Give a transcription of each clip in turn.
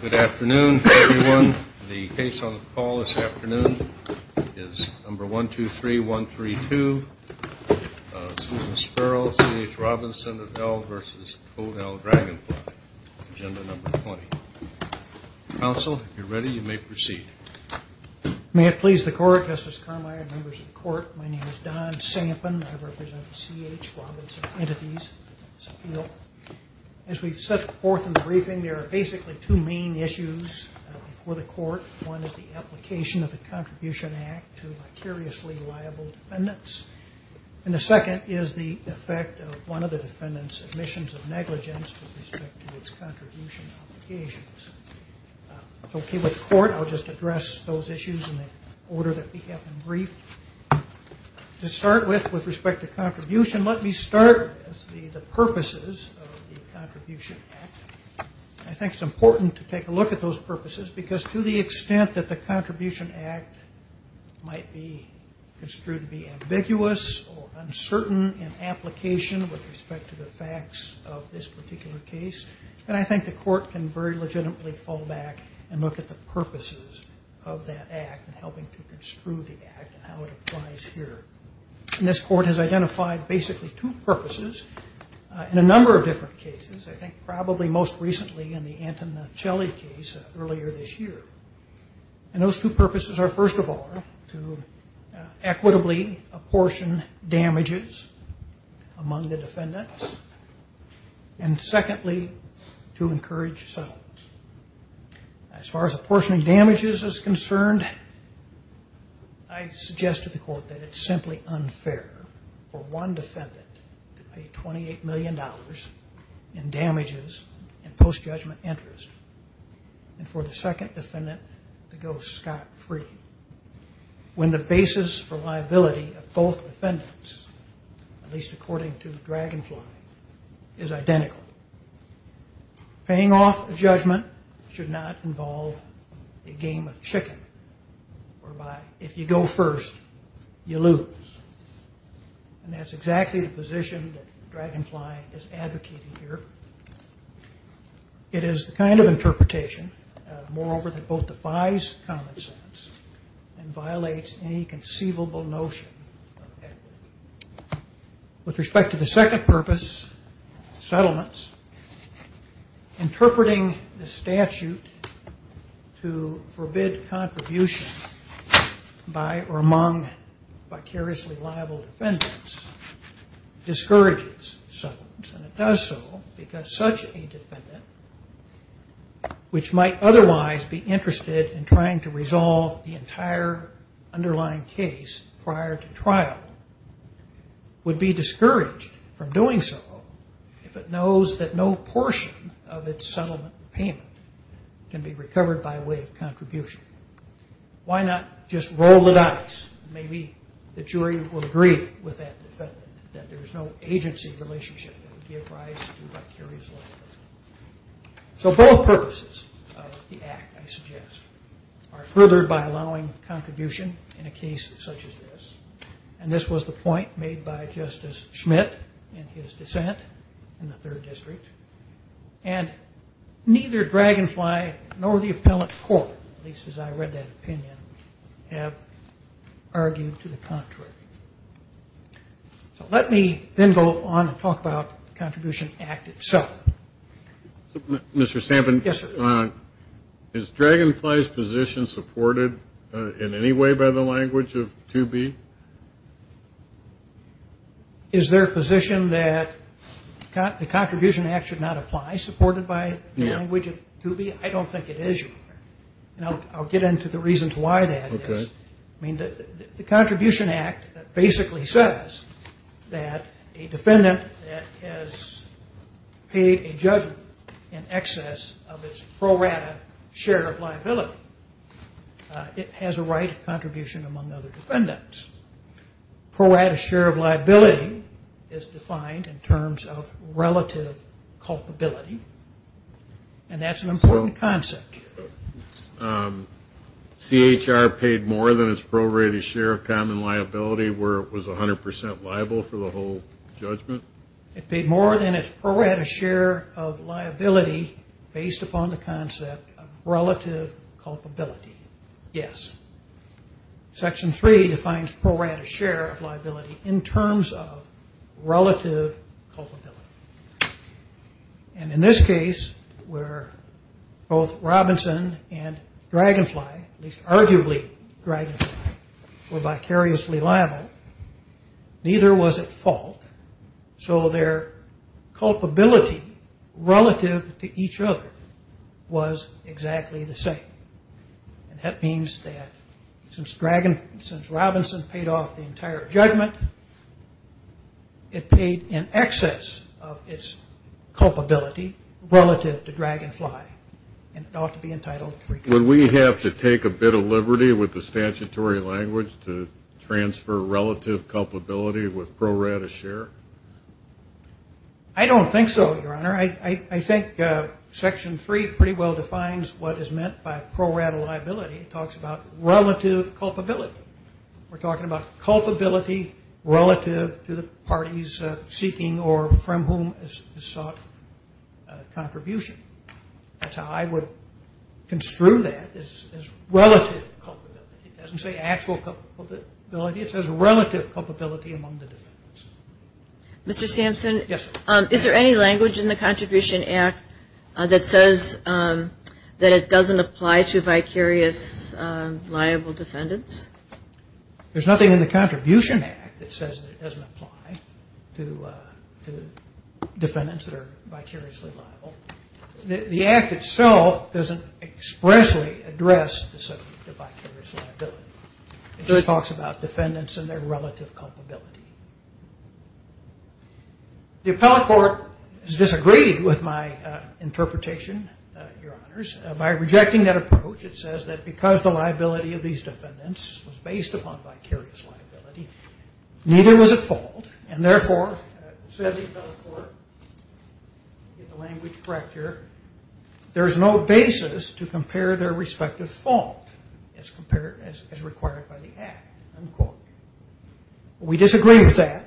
Good afternoon, everyone. The case on the call this afternoon is number 123132, Susan Sperl, C.H. Robinson of L. v. Toad L. Dragonfly, Agenda Number 20. Counsel, if you're ready, you may proceed. May it please the Court, Justice Carmi, and members of the Court, my name is Don Sampin. I represent the C.H. Robinson entities. As we set forth in the briefing, there are basically two main issues before the Court. One is the application of the Contribution Act to vicariously liable defendants. And the second is the effect of one of the defendants' admissions of negligence with respect to its contribution obligations. If it's okay with the Court, I'll just address those issues in the order that we have them briefed. To start with, with respect to contribution, let me start with the purposes of the Contribution Act. I think it's important to take a look at those purposes because to the extent that the Contribution Act might be construed to be ambiguous or uncertain in application with respect to the facts of this particular case, then I think the Court can very legitimately fall back and look at the purposes of that Act and helping to construe the Act and how it applies here. And this Court has identified basically two purposes in a number of different cases. I think probably most recently in the Antonacelli case earlier this year. And those two purposes are, first of all, to equitably apportion damages among the defendants. And secondly, to encourage settlement. As far as apportioning damages is concerned, I suggest to the Court that it's simply unfair for one defendant to pay $28 million in damages in post-judgment interest and for the second defendant to go scot-free. When the basis for liability of both defendants, at least according to Dragonfly, is identical. Paying off a judgment should not involve a game of chicken whereby if you go first, you lose. And that's exactly the position that Dragonfly is advocating here. It is the kind of interpretation, moreover, that both defies common sense and violates any conceivable notion of equity. With respect to the second purpose, settlements, interpreting the statute to forbid contribution by or among vicariously liable defendants discourages settlements. And it does so because such a defendant, which might otherwise be interested in trying to resolve the entire underlying case prior to trial, would be discouraged from doing so if it knows that no portion of its settlement payment can be recovered by way of contribution. Why not just roll the dice? Maybe the jury will agree with that defendant that there is no agency relationship that would give rise to vicarious liability. So both purposes of the Act, I suggest, are furthered by allowing contribution in a case such as this. And this was the point made by Justice Schmidt in his dissent in the Third District. And neither Dragonfly nor the appellate court, at least as I read that opinion, have argued to the contrary. So let me then go on and talk about the Contribution Act itself. Mr. Stampin? Yes, sir. Is Dragonfly's position supported in any way by the language of 2B? Is their position that the Contribution Act should not apply supported by the language of 2B? I don't think it is, Your Honor. And I'll get into the reasons why that is. Okay. I mean, the Contribution Act basically says that a defendant that has paid a judgment in excess of its pro rata share of liability, it has a right of contribution among other defendants. Pro rata share of liability is defined in terms of relative culpability. And that's an important concept. CHR paid more than its pro rata share of common liability where it was 100% liable for the whole judgment? It paid more than its pro rata share of liability based upon the concept of relative culpability. Yes. Section 3 defines pro rata share of liability in terms of relative culpability. And in this case where both Robinson and Dragonfly, at least arguably Dragonfly, were vicariously liable, neither was at fault, so their culpability relative to each other was exactly the same. And that means that since Robinson paid off the entire judgment, it paid in excess of its culpability relative to Dragonfly. And it ought to be entitled to reconsideration. Would we have to take a bit of liberty with the statutory language to transfer relative culpability with pro rata share? I don't think so, Your Honor. I think Section 3 pretty well defines what is meant by pro rata liability. It talks about relative culpability. We're talking about culpability relative to the parties seeking or from whom is sought contribution. That's how I would construe that as relative culpability. It doesn't say actual culpability. It says relative culpability among the defendants. Mr. Sampson? Yes. Is there any language in the Contribution Act that says that it doesn't apply to vicarious liable defendants? There's nothing in the Contribution Act that says that it doesn't apply to defendants that are vicariously liable. The Act itself doesn't expressly address the subject of vicarious liability. It just talks about defendants and their relative culpability. The Appellate Court has disagreed with my interpretation, Your Honors, by rejecting that approach. It says that because the liability of these defendants was based upon vicarious liability, neither was at fault and, therefore, there is no basis to compare their respective fault as required by the Act. We disagree with that.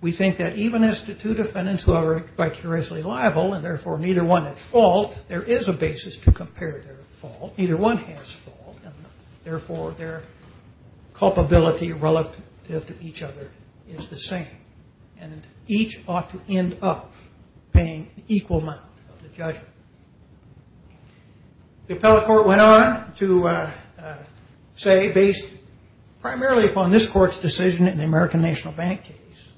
We think that even as to two defendants who are vicariously liable and, therefore, neither one at fault, there is a basis to compare their fault. Neither one has fault and, therefore, their culpability relative to each other is the same and each ought to end up paying equal amount of the judgment. The Appellate Court went on to say, based primarily upon this Court's decision in the American National Bank case,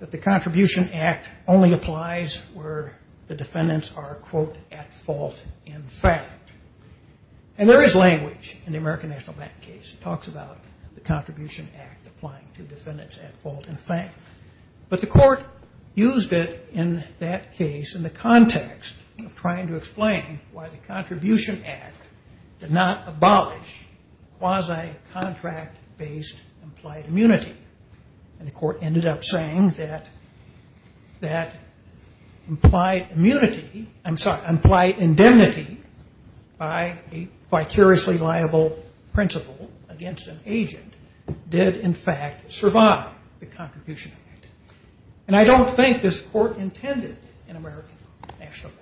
that the Contribution Act only applies where the defendants are, quote, at fault in fact. And there is language in the American National Bank case. It talks about the Contribution Act applying to defendants at fault in fact. But the Court used it in that case in the context of trying to explain why the Contribution Act did not abolish quasi-contract-based implied immunity. And the Court ended up saying that implied immunity, I'm sorry, implied indemnity by a vicariously liable principle against an agent did, in fact, survive the Contribution Act. And I don't think this Court intended in American National Bank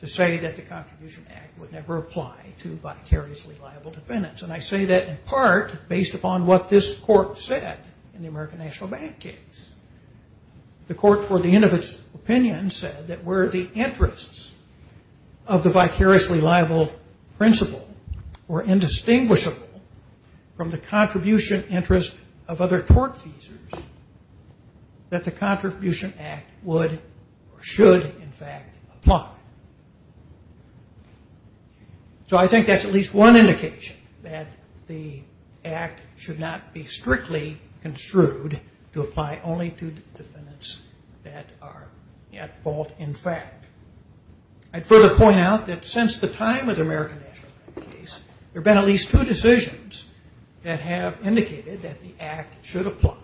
to say that the Contribution Act would never apply to vicariously liable defendants. And I say that in part based upon what this Court said in the American National Bank case. The Court, for the end of its opinion, said that were the interests of the vicariously liable principle were indistinguishable from the contribution interest of other tort feasors, that the Contribution Act would or should, in fact, apply. So I think that's at least one indication that the Act should not be strictly construed to apply only to defendants that are at fault in fact. I'd further point out that since the time of the American National Bank case, there have been at least two decisions that have indicated that the Act should apply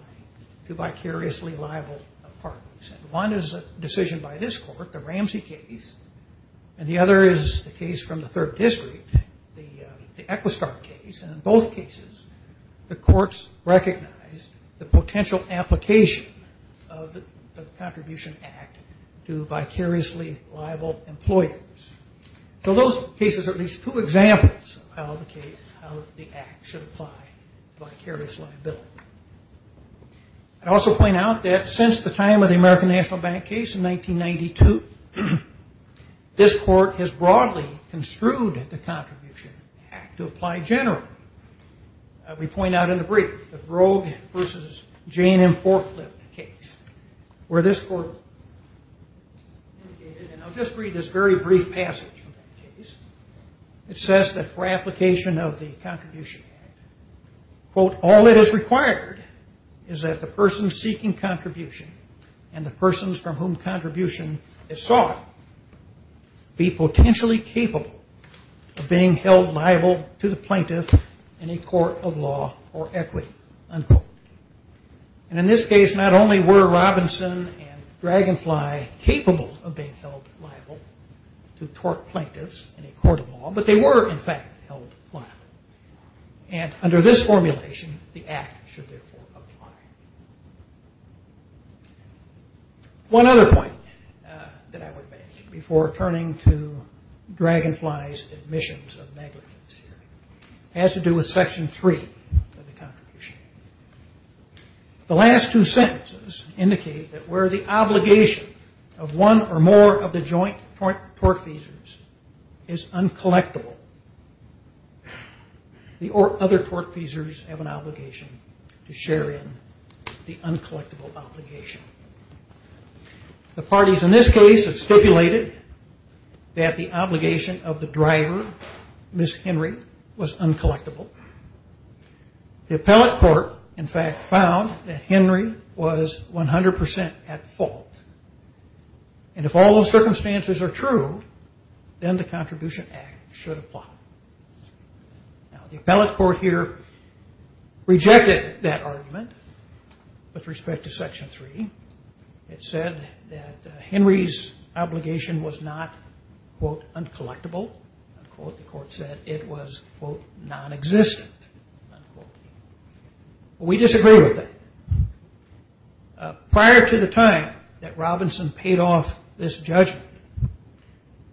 to vicariously liable parties. One is a decision by this Court, the Ramsey case, and the other is the case from the Third District, the Equistar case. And in both cases, the Courts recognized the potential application of the Contribution Act to vicariously liable employers. So those cases are at least two examples of how the Act should apply to vicarious liability. I'd also point out that since the time of the American National Bank case in 1992, this Court has broadly construed the Contribution Act to apply generally. We point out in the brief, the Brogue v. Jane and Forklift case, where this Court indicated, and I'll just read this very brief passage from that case, it says that for application of the Contribution Act, quote, all that is required is that the person seeking contribution and the persons from whom contribution is sought be potentially capable of being held liable to the plaintiff in a court of law or equity, unquote. And in this case, not only were Robinson and Dragonfly capable of being held liable to tort plaintiffs in a court of law, but they were in fact held liable. And under this formulation, the Act should therefore apply. One other point that I would mention before turning to Dragonfly's admissions of negligence here has to do with Section 3 of the Contribution Act. The last two sentences indicate that where the obligation of one or more of the joint tortfeasors is uncollectible, the other tortfeasors have an obligation to share in the uncollectible obligation. The parties in this case have stipulated that the obligation of the driver, Ms. Henry, was uncollectible. The appellate court, in fact, found that Henry was 100% at fault. And if all those circumstances are true, then the Contribution Act should apply. Now, the appellate court here rejected that argument with respect to Section 3. It said that Henry's obligation was not, quote, uncollectible, unquote. The court said it was, quote, nonexistent, unquote. We disagree with that. Prior to the time that Robinson paid off this judgment,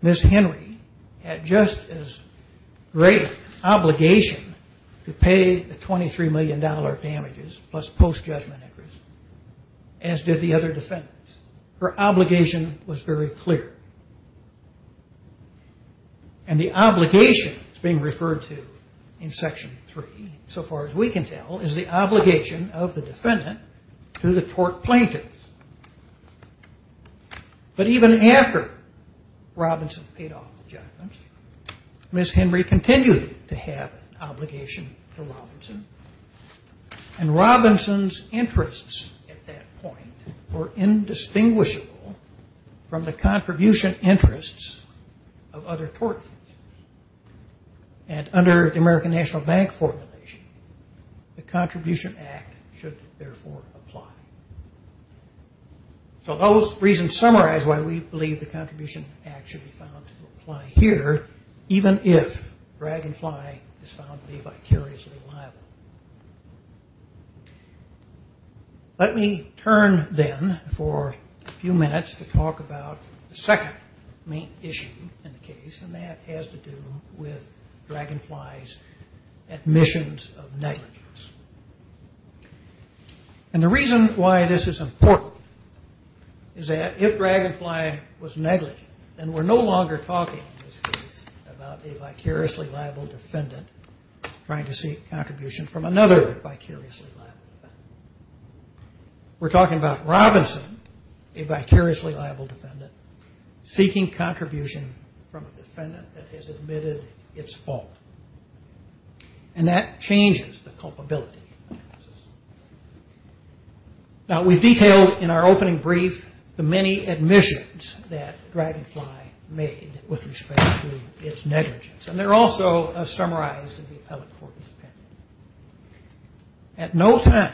Ms. Henry had just as great an obligation to pay the $23 million damages plus post-judgment interest as did the other defendants. Her obligation was very clear. And the obligation that's being referred to in Section 3, so far as we can tell, is the obligation of the defendant to the tort plaintiffs. But even after Robinson paid off the judgment, Ms. Henry continued to have an obligation to Robinson. And Robinson's interests at that point were indistinguishable from the contribution interests of other tortfeasors. And under the American National Bank formulation, the Contribution Act should therefore apply. So those reasons summarize why we believe the Contribution Act should be found to apply here, even if Dragonfly is found to be vicariously liable. Let me turn then for a few minutes to talk about the second main issue in the case, and that has to do with Dragonfly's admissions of negligence. And the reason why this is important is that if Dragonfly was negligent, then we're no longer talking in this case about a vicariously liable defendant trying to seek contribution from another vicariously liable defendant. We're talking about Robinson, a vicariously liable defendant, seeking contribution from a defendant that has admitted its fault. And that changes the culpability analysis. Now, we've detailed in our opening brief the many admissions that Dragonfly made with respect to its negligence, and they're also summarized in the appellate court's opinion. At no time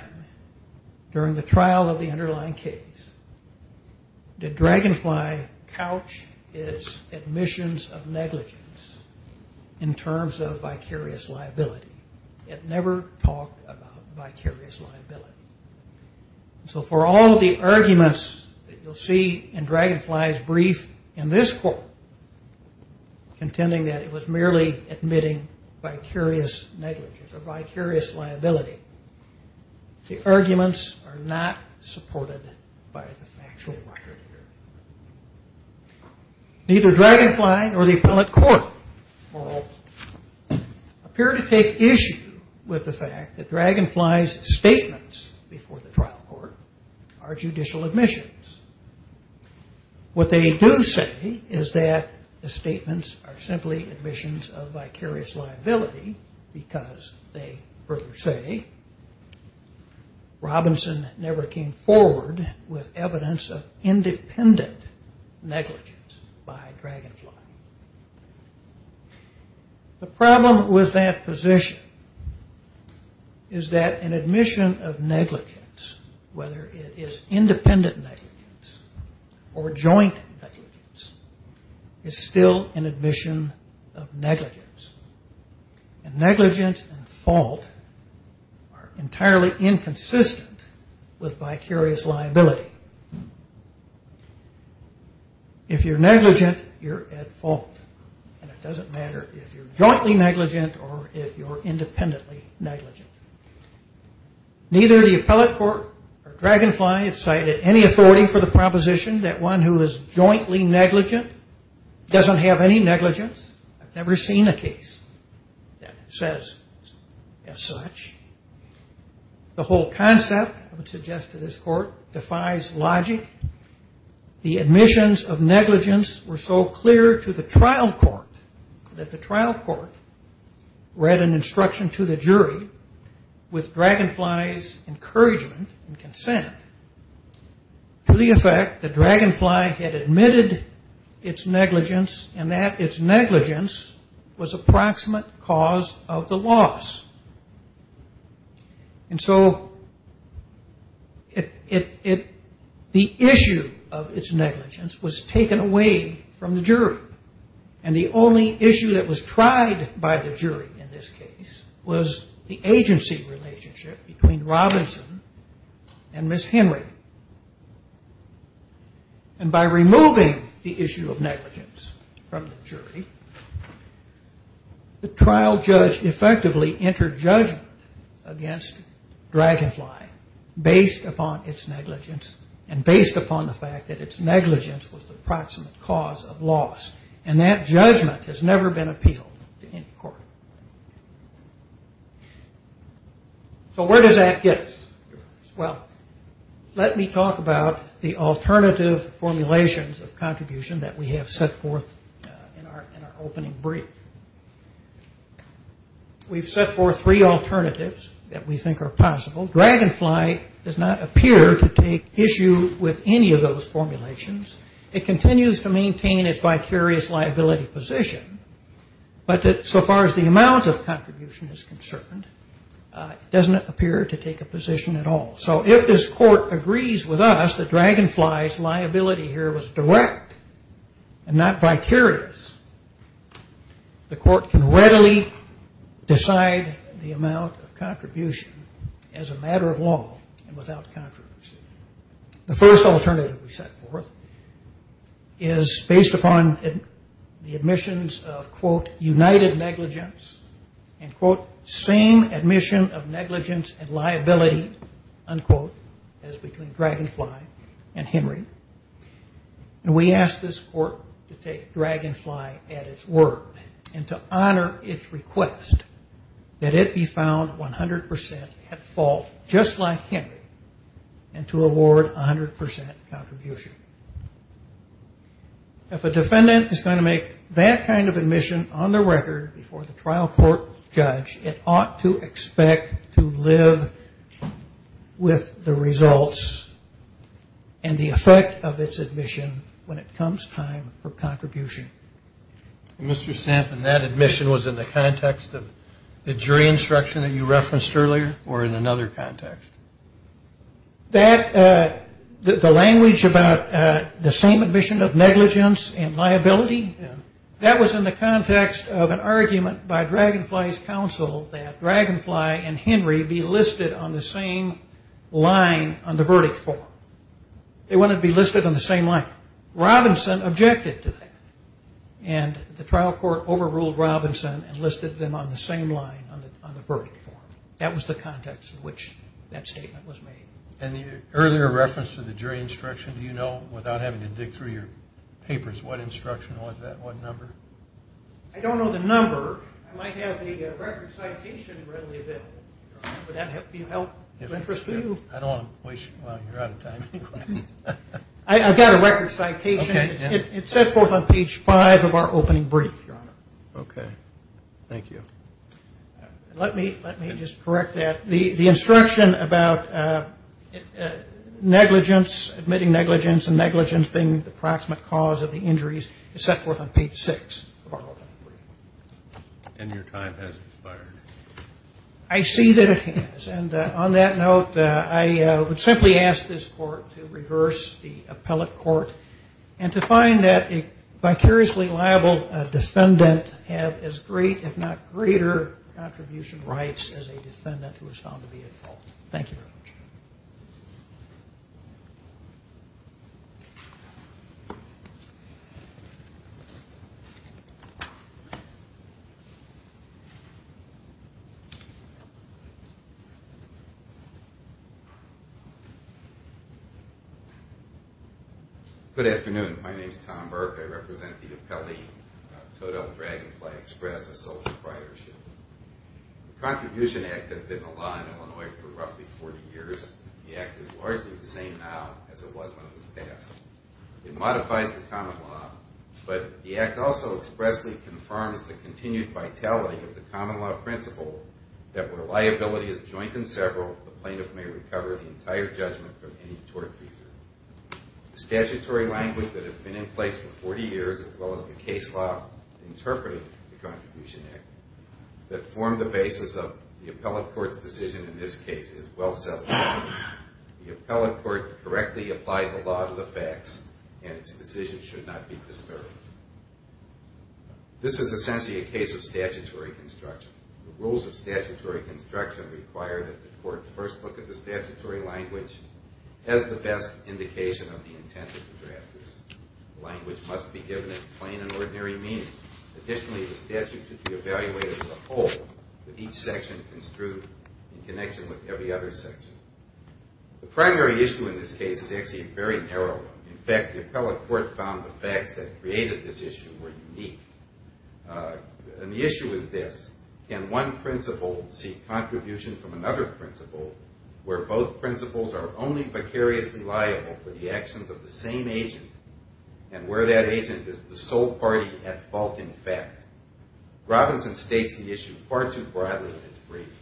during the trial of the underlying case did Dragonfly couch its admissions of negligence in terms of vicarious liability. It never talked about vicarious liability. So for all of the arguments that you'll see in Dragonfly's brief in this court, contending that it was merely admitting vicarious negligence or vicarious liability, the arguments are not supported by the factual record here. Neither Dragonfly nor the appellate court, for all, appear to take issue with the fact that Dragonfly's statements before the trial court are judicial admissions. What they do say is that the statements are simply admissions of vicarious liability because, they further say, Robinson never came forward with evidence of independent negligence by Dragonfly. The problem with that position is that an admission of negligence, whether it is independent negligence or joint negligence, is still an admission of negligence. And negligence and fault are entirely inconsistent with vicarious liability. If you're negligent, you're at fault. And it doesn't matter if you're jointly negligent or if you're independently negligent. Neither the appellate court nor Dragonfly have cited any authority for the proposition that one who is jointly negligent doesn't have any negligence. I've never seen a case that says as such. The whole concept, I would suggest to this court, defies logic. The admissions of negligence were so clear to the trial court that the trial court read an instruction to the jury with Dragonfly's encouragement and consent to the effect that Dragonfly had admitted its negligence and that its negligence was approximate cause of the loss. And so the issue of its negligence was taken away from the jury. And the only issue that was tried by the jury in this case was the agency relationship between Robinson and Ms. Henry. And by removing the issue of negligence from the jury, the trial judge effectively entered judgment against Dragonfly based upon its negligence and based upon the fact that its negligence was the approximate cause of loss. And that judgment has never been appealed to any court. So where does that get us? Well, let me talk about the alternative formulations of contribution that we have set forth in our opening brief. We've set forth three alternatives that we think are possible. Dragonfly does not appear to take issue with any of those formulations. It continues to maintain its vicarious liability position, but so far as the amount of contribution is concerned, it doesn't appear to take a position at all. So if this court agrees with us that Dragonfly's liability here was direct and not vicarious, the court can readily decide the amount of contribution as a matter of law and without controversy. The first alternative we set forth is based upon the admissions of, quote, united negligence and, quote, same admission of negligence and liability, unquote, as between Dragonfly and Henry. And we ask this court to take Dragonfly at its word and to honor its request that it be found 100% at fault just like Henry and to award 100% contribution. If a defendant is going to make that kind of admission on the record before the trial court judge, it ought to expect to live with the results and the effect of its admission when it comes time for contribution. Mr. Sampson, that admission was in the context of the jury instruction that you referenced earlier or in another context? The language about the same admission of negligence and liability, that was in the context of an argument by Dragonfly's counsel that Dragonfly and Henry be listed on the same line on the verdict form. They wanted to be listed on the same line. Robinson objected to that, and the trial court overruled Robinson and listed them on the same line on the verdict form. That was the context in which that statement was made. And the earlier reference to the jury instruction, do you know without having to dig through your papers, what instruction was that, what number? I don't know the number. I might have the record citation readily available. Would that be of help to you? I don't want to waste your time. I've got a record citation. It's set forth on page 5 of our opening brief, Your Honor. Okay. Thank you. Let me just correct that. The instruction about negligence, admitting negligence and negligence being the proximate cause of the injuries is set forth on page 6 of our opening brief. And your time has expired. I see that it has. And on that note, I would simply ask this court to reverse the appellate court and to find that a vicariously liable defendant has as great if not greater contribution rights as a defendant who is found to be at fault. Thank you very much. Good afternoon. My name is Tom Burke. I represent the appellee, Total Dragonfly Express, a sole proprietorship. The Contribution Act has been the law in Illinois for roughly 40 years. The Act is largely the same now as it was when it was passed. It modifies the common law, but the Act also expressly confirms the continued vitality of the common law principle that where liability is joint and several, the plaintiff may recover the entire judgment from any tort fees. The statutory language that has been in place for 40 years, as well as the case law interpreting the Contribution Act, that formed the basis of the appellate court's decision in this case, is well settled. The appellate court correctly applied the law to the facts and its decision should not be disturbed. This is essentially a case of statutory construction. The rules of statutory construction require that the court first look at the statutory language as the best indication of the intent of the drafters. The language must be given its plain and ordinary meaning. Additionally, the statute should be evaluated as a whole, with each section construed in connection with every other section. The primary issue in this case is actually a very narrow one. In fact, the appellate court found the facts that created this issue were unique. And the issue is this. Can one principle seek contribution from another principle where both principles are only vicariously liable for the actions of the same agent and where that agent is the sole party at fault in fact? Robinson states the issue far too broadly in his brief.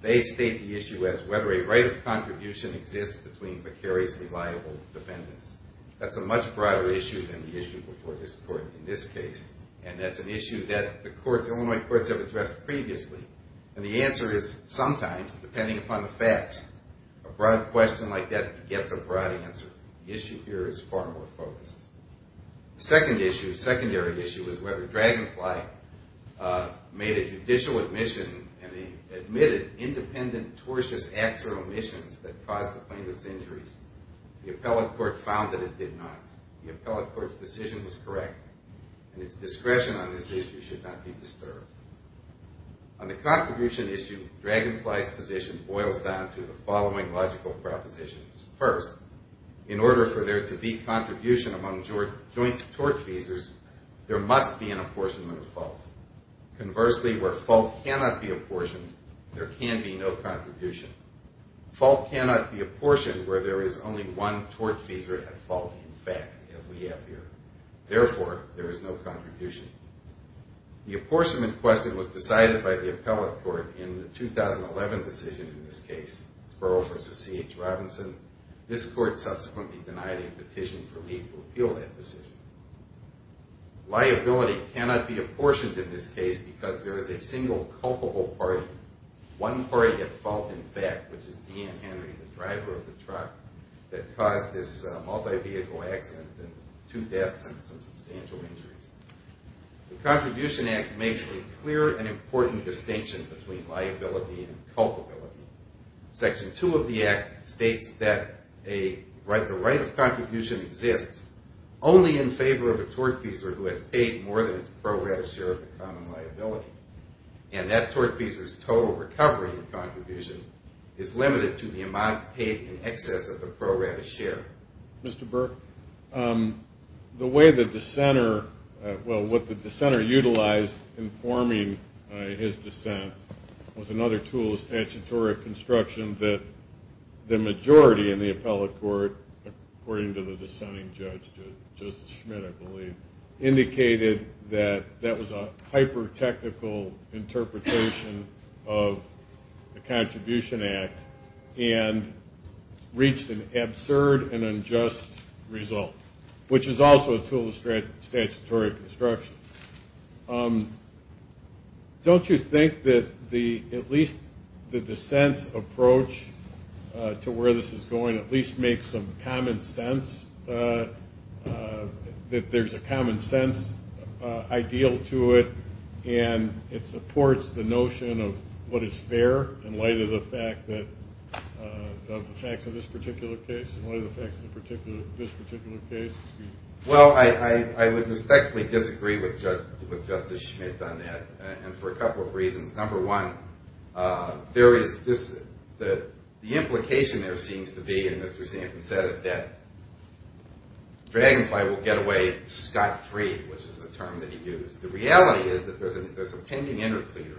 They state the issue as whether a right of contribution exists between vicariously liable defendants. That's a much broader issue than the issue before this court in this case, and that's an issue that the Illinois courts have addressed previously. And the answer is sometimes, depending upon the facts, a broad question like that gets a broad answer. The issue here is far more focused. The secondary issue is whether Dragonfly made a judicial admission and admitted independent, tortious acts or omissions that caused the plaintiff's injuries. The appellate court found that it did not. The appellate court's decision was correct, and its discretion on this issue should not be disturbed. On the contribution issue, Dragonfly's position boils down to the following logical propositions. First, in order for there to be contribution among joint tort casers, there must be an apportionment of fault. Conversely, where fault cannot be apportioned, there can be no contribution. Fault cannot be apportioned where there is only one tort caser at fault in fact, as we have here. Therefore, there is no contribution. The apportionment question was decided by the appellate court in the 2011 decision in this case, Spurl v. C.H. Robinson. This court subsequently denied a petition for me to repeal that decision. Liability cannot be apportioned in this case because there is a single culpable party, one party at fault in fact, which is D.N. Henry, the driver of the truck that caused this multi-vehicle accident and two deaths and some substantial injuries. The Contribution Act makes a clear and important distinction between liability and culpability. Section 2 of the Act states that the right of contribution exists only in favor of a tort caser who has paid more than its pro gratis share of the common liability, and that tort caser's total recovery in contribution is limited to the amount paid in excess of the pro gratis share. Mr. Burke, the way the dissenter, well, what the dissenter utilized in forming his dissent was another tool of statutory construction that the majority in the appellate court, according to the dissenting judge, Justice Schmidt, I believe, indicated that that was a hyper-technical interpretation of the Contribution Act and reached an absurd and unjust result, which is also a tool of statutory construction. Don't you think that at least the dissent's approach to where this is going at least makes some common sense, that there's a common sense ideal to it and it supports the notion of what is fair in light of the facts of this particular case? Well, I would respectfully disagree with Justice Schmidt on that, and for a couple of reasons. Number one, there is this, the implication there seems to be, and Mr. Sampson said it, that Dragonfly will get away scot-free, which is the term that he used. The reality is that there's a pending intercleaner.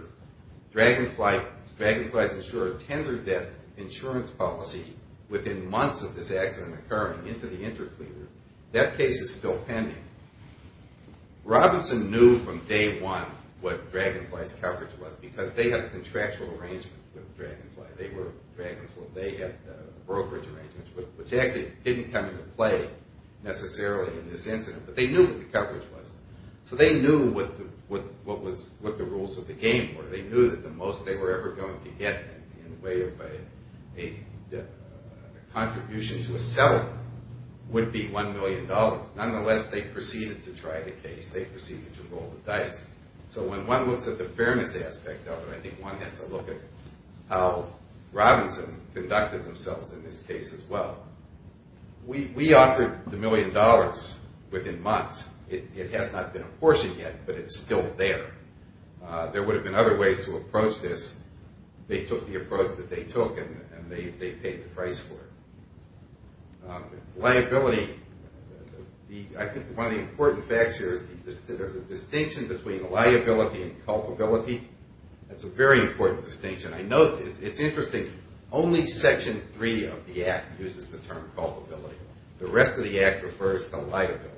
Dragonfly's insured tender debt insurance policy within months of this accident occurring into the intercleaner. That case is still pending. Robinson knew from day one what Dragonfly's coverage was because they had a contractual arrangement with Dragonfly. They were Dragonfly. They had a brokerage arrangement, which actually didn't come into play necessarily in this incident, but they knew what the coverage was. So they knew what the rules of the game were. They knew that the most they were ever going to get in the way of a contribution to a seller would be $1 million. Nonetheless, they proceeded to try the case. They proceeded to roll the dice. So when one looks at the fairness aspect of it, I think one has to look at how Robinson conducted themselves in this case as well. We offered the million dollars within months. It has not been apportioned yet, but it's still there. There would have been other ways to approach this. They took the approach that they took, and they paid the price for it. Liability. I think one of the important facts here is there's a distinction between liability and culpability. That's a very important distinction. I know it's interesting. Only Section 3 of the Act uses the term culpability. The rest of the Act refers to liability.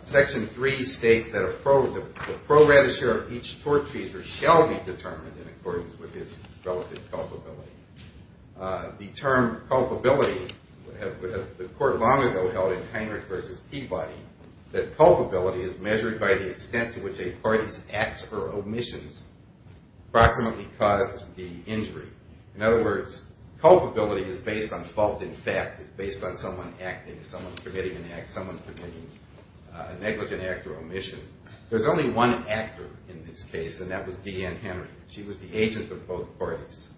Section 3 states that the proratisher of each torturer shall be determined in accordance with his relative culpability. The term culpability, the court long ago held in Heinrich v. Peabody, that culpability is measured by the extent to which a party's acts or omissions approximately caused the injury. In other words, culpability is based on fault in fact. It's based on someone acting, someone committing an act, someone committing a negligent act or omission. There's only one actor in this case, and that was Deanne Henry. She was the agent of both parties.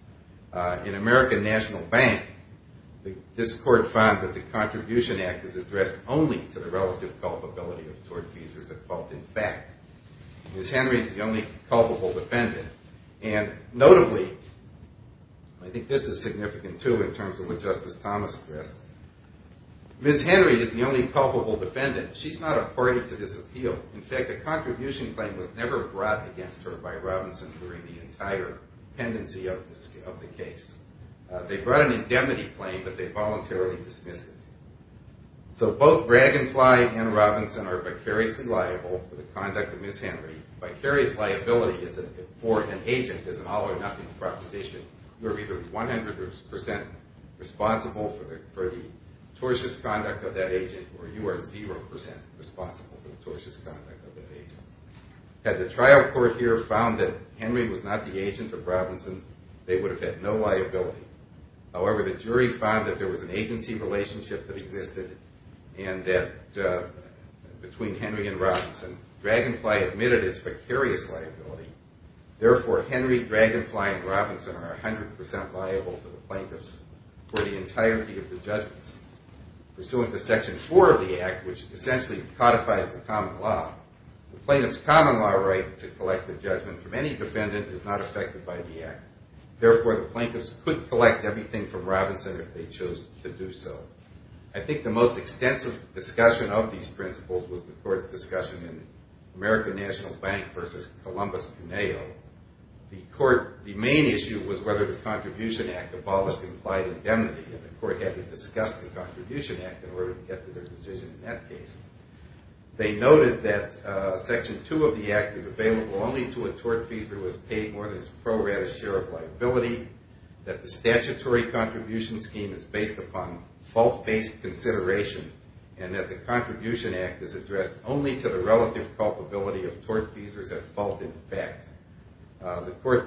In American National Bank, this court found that the Contribution Act is addressed only to the relative culpability of tortfeasors at fault in fact. Ms. Henry is the only culpable defendant. And notably, I think this is significant, too, in terms of what Justice Thomas addressed, Ms. Henry is the only culpable defendant. She's not a party to this appeal. In fact, a contribution claim was never brought against her by Robinson during the entire pendency of the case. They brought an indemnity claim, but they voluntarily dismissed it. So both Bragg and Fly and Robinson are vicariously liable for the conduct of Ms. Henry. Vicarious liability for an agent is an all-or-nothing proposition. You are either 100% responsible for the tortious conduct of that agent, or you are 0% responsible for the tortious conduct of that agent. Had the trial court here found that Henry was not the agent of Robinson, they would have had no liability. However, the jury found that there was an agency relationship that existed between Henry and Robinson. Bragg and Fly admitted its vicarious liability. Therefore, Henry, Bragg and Fly, and Robinson are 100% liable to the plaintiffs for the entirety of the judgments. Pursuant to Section 4 of the Act, which essentially codifies the common law, the plaintiff's common law right to collect a judgment from any defendant is not affected by the Act. Therefore, the plaintiffs could collect everything from Robinson if they chose to do so. I think the most extensive discussion of these principles was the court's discussion in American National Bank v. Columbus Cuneo. The main issue was whether the Contribution Act abolished implied indemnity, and the court had to discuss the Contribution Act in order to get to their decision in that case. They noted that Section 2 of the Act is available only to a tortfeasor who has paid more than his pro-ratus share of liability, that the statutory contribution scheme is based upon fault-based consideration, and that the Contribution Act is addressed only to the relative culpability of tortfeasors at fault in fact. The court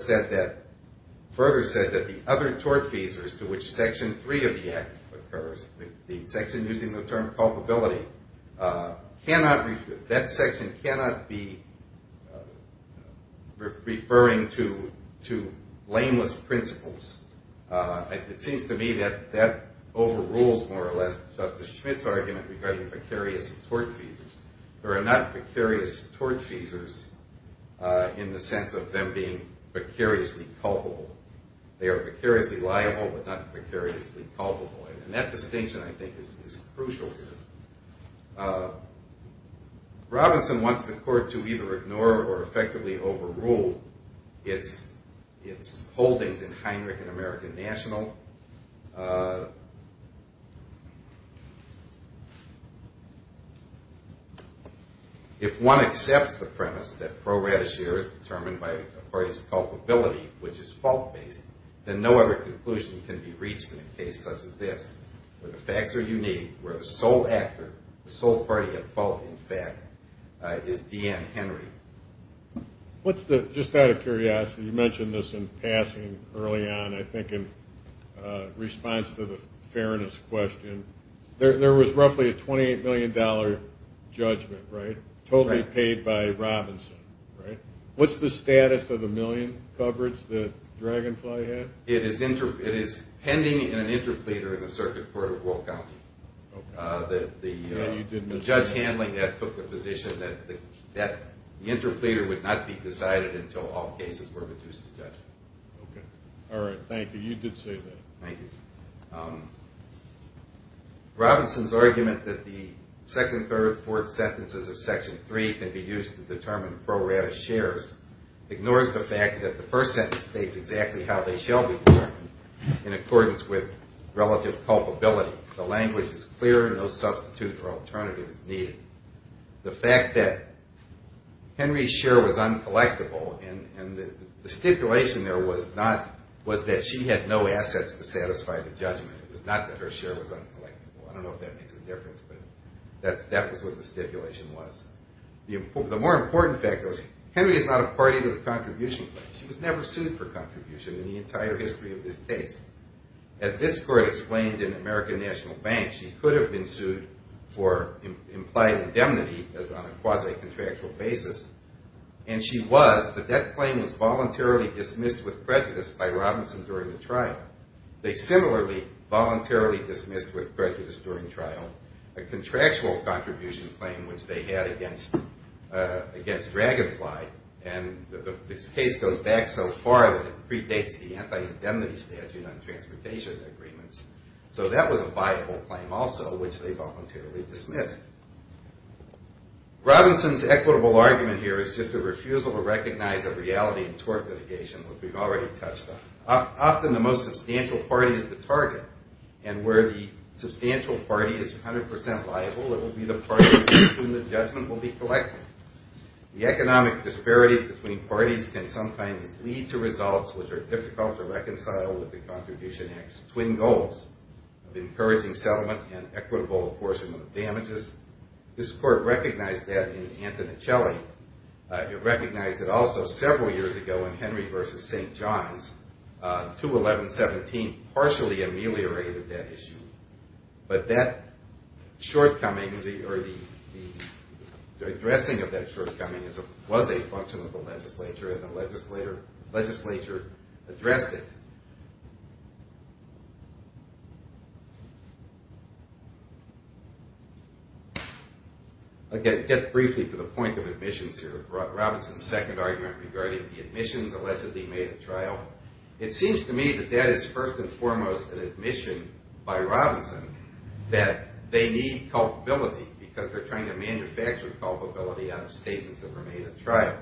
further said that the other tortfeasors to which Section 3 of the Act occurs, the section using the term culpability, that section cannot be referring to blameless principles. It seems to me that that overrules more or less Justice Schmitt's argument regarding precarious tortfeasors. There are not precarious tortfeasors in the sense of them being precariously culpable. They are precariously liable but not precariously culpable, and that distinction, I think, is crucial here. Robinson wants the court to either ignore or effectively overrule its holdings in Heinrich and American National. If one accepts the premise that pro-ratus share is determined by a party's culpability, which is fault-based, then no other conclusion can be reached in a case such as this, where the facts are unique, where the sole actor, the sole party at fault in fact, is D.N. Henry. Just out of curiosity, you mentioned this in passing early on, I think in response to the fairness question. There was roughly a $28 million judgment, right, totally paid by Robinson, right? What's the status of the million coverage that Dragonfly had? It is pending in an interpleader in the circuit court of Will County. The judge handling that took the position that the interpleader would not be decided until all cases were reduced to that. Okay. All right. Thank you. You did say that. Thank you. Robinson's argument that the second, third, fourth sentences of Section 3 can be used to determine pro-ratus shares ignores the fact that the first sentence states exactly how they shall be determined in accordance with relative culpability. The language is clear. No substitute or alternative is needed. The fact that Henry's share was uncollectible, and the stipulation there was that she had no assets to satisfy the judgment. It was not that her share was uncollectible. I don't know if that makes a difference, but that was what the stipulation was. The more important fact was Henry is not a party to a contribution claim. She was never sued for contribution in the entire history of this case. As this court explained in American National Bank, she could have been sued for implied indemnity on a quasi-contractual basis, and she was, but that claim was voluntarily dismissed with prejudice by Robinson during the trial. They similarly voluntarily dismissed with prejudice during trial a contractual contribution claim which they had against Dragonfly, and this case goes back so far that it predates the anti-indemnity statute on transportation agreements. So that was a viable claim also, which they voluntarily dismissed. Robinson's equitable argument here is just a refusal to recognize the reality in tort litigation, which we've already touched on. Often the most substantial party is the target, and where the substantial party is 100% liable, it will be the party in whose judgment will be collected. The economic disparities between parties can sometimes lead to results which are difficult to reconcile with the Contribution Act's twin goals of encouraging settlement and equitable apportionment of damages. This court recognized that in Antoneccelli. It recognized it also several years ago in Henry v. St. John's. 211-17 partially ameliorated that issue, but that shortcoming or the addressing of that shortcoming was a function of the legislature, and the legislature addressed it. I'll get briefly to the point of admissions here. Robinson's second argument regarding the admissions allegedly made at trial, it seems to me that that is first and foremost an admission by Robinson that they need culpability because they're trying to manufacture culpability out of statements that were made at trial.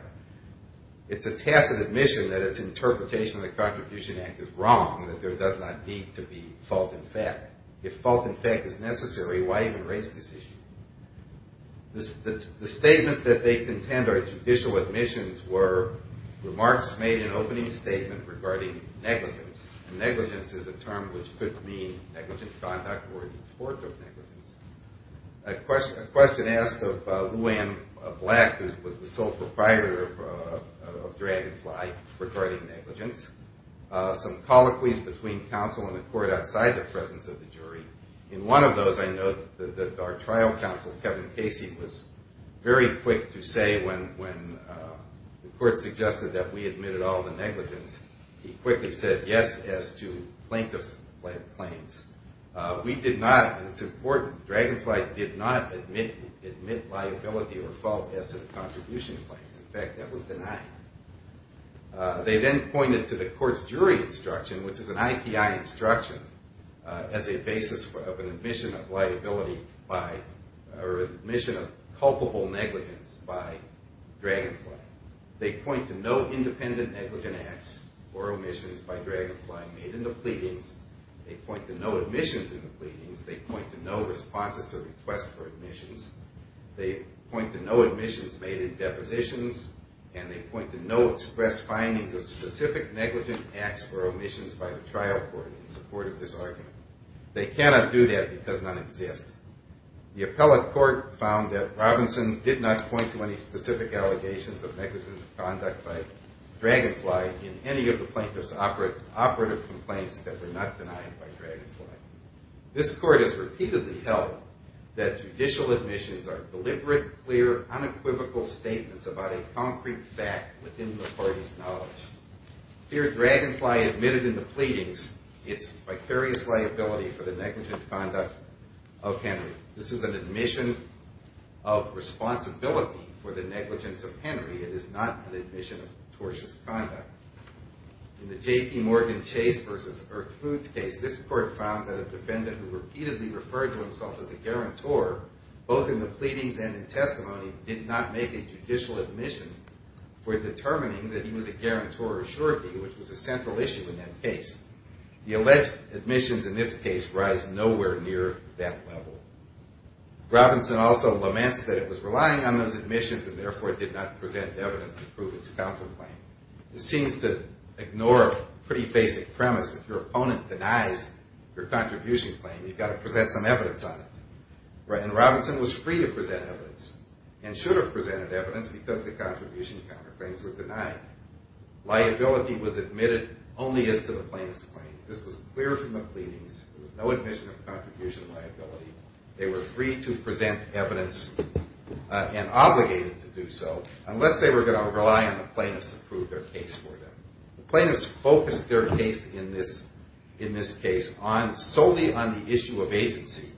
It's a tacit admission that its interpretation of the Contribution Act is wrong, that there does not need to be fault in fact. If fault in fact is necessary, why even raise this issue? The statements that they contend are judicial admissions were remarks made in opening statement regarding negligence, and negligence is a term which could mean negligent conduct or the report of negligence. A question asked of Lou Anne Black, who was the sole proprietor of Dragonfly, regarding negligence. Some colloquies between counsel and the court outside the presence of the jury. In one of those, I note that our trial counsel, Kevin Casey, was very quick to say when the court suggested that we admitted all the negligence, he quickly said yes as to plaintiff's claims. We did not, and it's important, Dragonfly did not admit liability or fault as to the contribution claims. In fact, that was denied. They then pointed to the court's jury instruction, which is an IPI instruction, as a basis of an admission of liability or admission of culpable negligence by Dragonfly. They point to no independent negligent acts or omissions by Dragonfly made in the pleadings. They point to no admissions in the pleadings. They point to no responses to requests for admissions. They point to no admissions made in depositions, and they point to no express findings of specific negligent acts or omissions by the trial court in support of this argument. They cannot do that because none exist. The appellate court found that Robinson did not point to any specific allegations of negligent conduct by Dragonfly in any of the plaintiff's operative complaints that were not denied by Dragonfly. This court has repeatedly held that judicial admissions are deliberate, clear, unequivocal statements about a concrete fact within the court's knowledge. Here, Dragonfly admitted in the pleadings its vicarious liability for the negligent conduct of Henry. This is an admission of responsibility for the negligence of Henry. It is not an admission of tortious conduct. In the J.P. Morgan Chase v. Irk Foods case, this court found that a defendant who repeatedly referred to himself as a guarantor, both in the pleadings and in testimony, did not make a judicial admission for determining that he was a guarantor or surety, which was a central issue in that case. The alleged admissions in this case rise nowhere near that level. Robinson also laments that it was relying on those admissions and therefore did not present evidence to prove its counterclaim. This seems to ignore a pretty basic premise. If your opponent denies your contribution claim, you've got to present some evidence on it. And Robinson was free to present evidence and should have presented evidence because the contribution counterclaims were denied. Liability was admitted only as to the plaintiff's claims. This was clear from the pleadings. There was no admission of contribution liability. They were free to present evidence and obligated to do so unless they were going to rely on the plaintiffs to prove their case for them. The plaintiffs focused their case in this case solely on the issue of agency.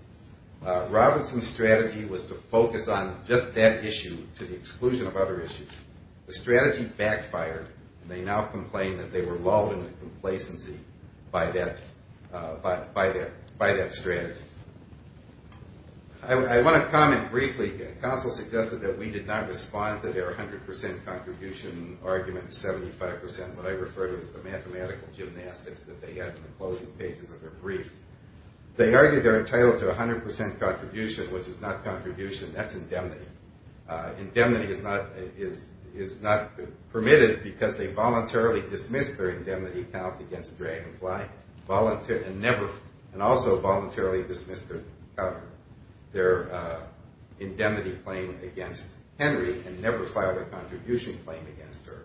Robinson's strategy was to focus on just that issue to the exclusion of other issues. The strategy backfired. They now complain that they were lulled into complacency by that strategy. I want to comment briefly. Counsel suggested that we did not respond to their 100 percent contribution argument, 75 percent, what I refer to as the mathematical gymnastics that they had in the closing pages of their brief. They argued they're entitled to 100 percent contribution, which is not contribution. That's indemnity. Indemnity is not permitted because they voluntarily dismissed their indemnity count against Dragonfly and also voluntarily dismissed their indemnity claim against Henry and never filed a contribution claim against her.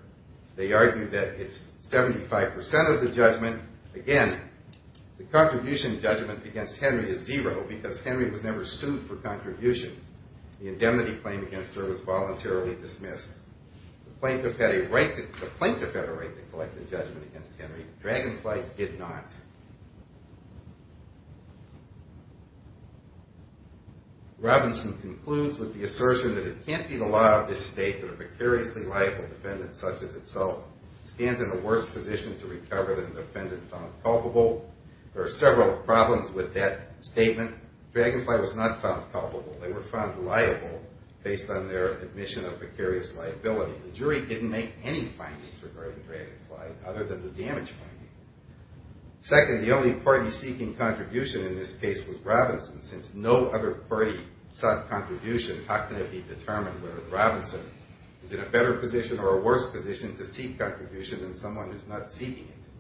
They argue that it's 75 percent of the judgment. Again, the contribution judgment against Henry is zero because Henry was never sued for contribution. The indemnity claim against her was voluntarily dismissed. The plaintiff had a right to collect the judgment against Henry. Dragonfly did not. Robinson concludes with the assertion that it can't be the law of this state that a precariously liable defendant such as itself stands in the worst position to recover than the defendant found culpable. There are several problems with that statement. Dragonfly was not found culpable. They were found liable based on their admission of precarious liability. The jury didn't make any findings regarding Dragonfly other than the damage finding. Second, the only party seeking contribution in this case was Robinson since no other party sought contribution. How can it be determined whether Robinson is in a better position or a worse position to seek contribution than someone who's not seeking it?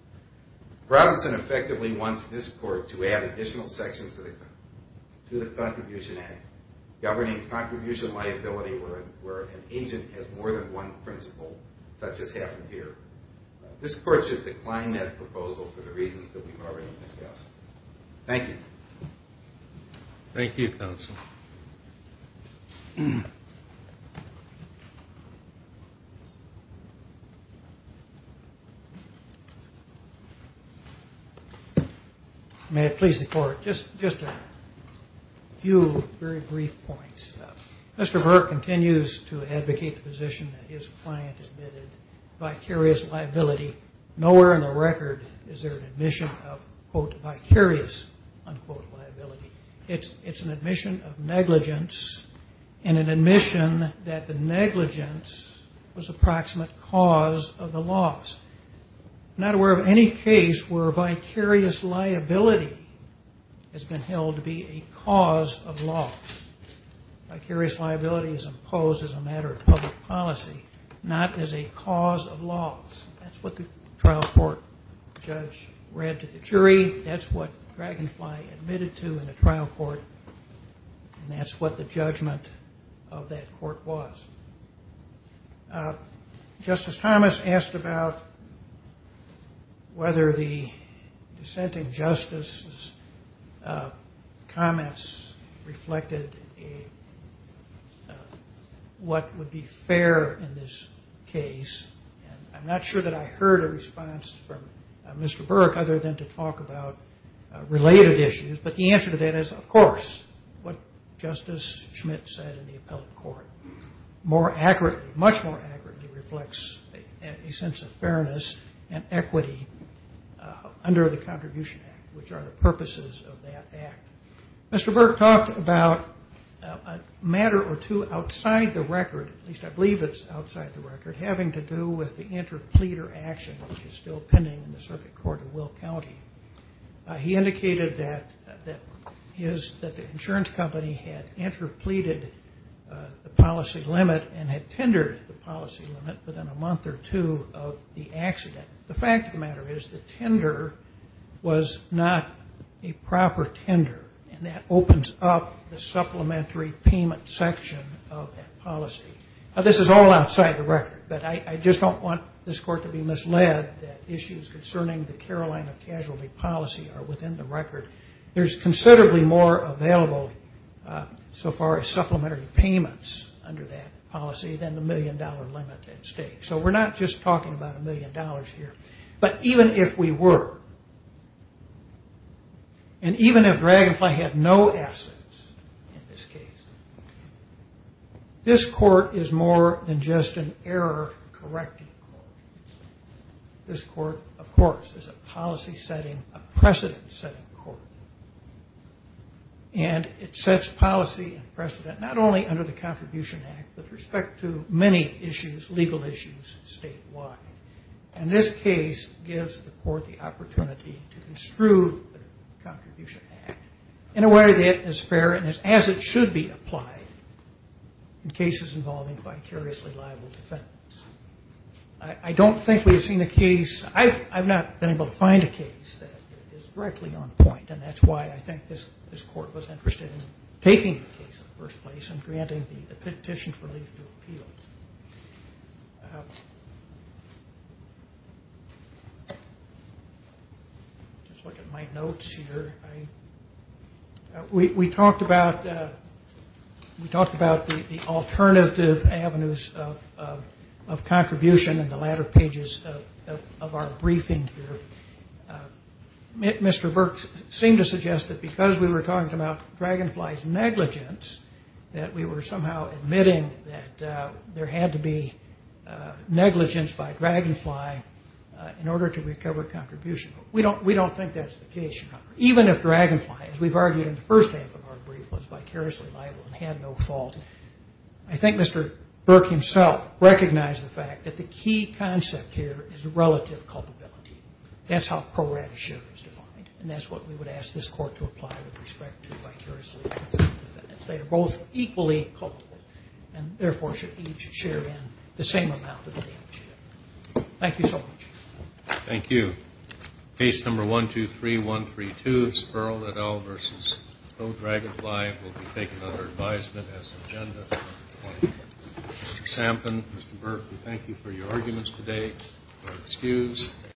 Robinson effectively wants this court to add additional sections to the Contribution Act governing contribution liability where an agent has more than one principle, such as happened here. This court should decline that proposal for the reasons that we've already discussed. Thank you. Thank you, counsel. May it please the court, just a few very brief points. Mr. Burke continues to advocate the position that his client admitted vicarious liability. Nowhere in the record is there an admission of, quote, vicarious, unquote, liability. It's an admission of negligence and an admission that the negligence was approximate cause of the loss. I'm not aware of any case where vicarious liability has been held to be a cause of loss. Vicarious liability is imposed as a matter of public policy, not as a cause of loss. That's what the trial court judge read to the jury. That's what Dragonfly admitted to in the trial court, and that's what the judgment of that court was. Justice Thomas asked about whether the dissenting justice's comments reflected what would be fair in this case. And I'm not sure that I heard a response from Mr. Burke other than to talk about related issues, but the answer to that is, of course, what Justice Schmidt said in the appellate court. More accurately, much more accurately reflects a sense of fairness and equity under the Contribution Act, which are the purposes of that act. Mr. Burke talked about a matter or two outside the record, at least I believe it's outside the record, having to do with the interpleader action, which is still pending in the circuit court of Will County. He indicated that the insurance company had interpleaded the policy limit and had tendered the policy limit within a month or two of the accident. The fact of the matter is the tender was not a proper tender, and that opens up the supplementary payment section of that policy. Now, this is all outside the record, but I just don't want this court to be misled that issues concerning the Carolina casualty policy are within the record. There's considerably more available so far as supplementary payments under that policy than the million-dollar limit at stake. So we're not just talking about a million dollars here, but even if we were and even if Dragonfly had no assets in this case, this court is more than just an error-correcting court. This court, of course, is a policy-setting, a precedent-setting court, and it sets policy and precedent not only under the Contribution Act, but with respect to many issues, legal issues statewide. And this case gives the court the opportunity to construe the Contribution Act in a way that is fair and as it should be applied in cases involving vicariously liable defendants. I don't think we've seen a case. I've not been able to find a case that is directly on point, and that's why I think this court was interested in taking the case in the first place and granting the petition for relief to appeal. Just look at my notes here. We talked about the alternative avenues of contribution in the latter pages of our briefing here. Mr. Burks seemed to suggest that because we were talking about Dragonfly's negligence, that we were somehow admitting that there had to be negligence by Dragonfly in order to recover contribution. We don't think that's the case. Even if Dragonfly, as we've argued in the first half of our brief, was vicariously liable and had no fault, I think Mr. Burke himself recognized the fact that the key concept here is relative culpability. That's how pro rata share is defined, and that's what we would ask this court to apply with respect to vicariously liable defendants. They are both equally culpable and, therefore, should each share in the same amount of damage. Thank you so much. Thank you. Case number 123132, Sperl et al. v. O'Dragonfly, will be taken under advisement as agenda. Mr. Sampson, Mr. Burke, we thank you for your arguments today. Excuse.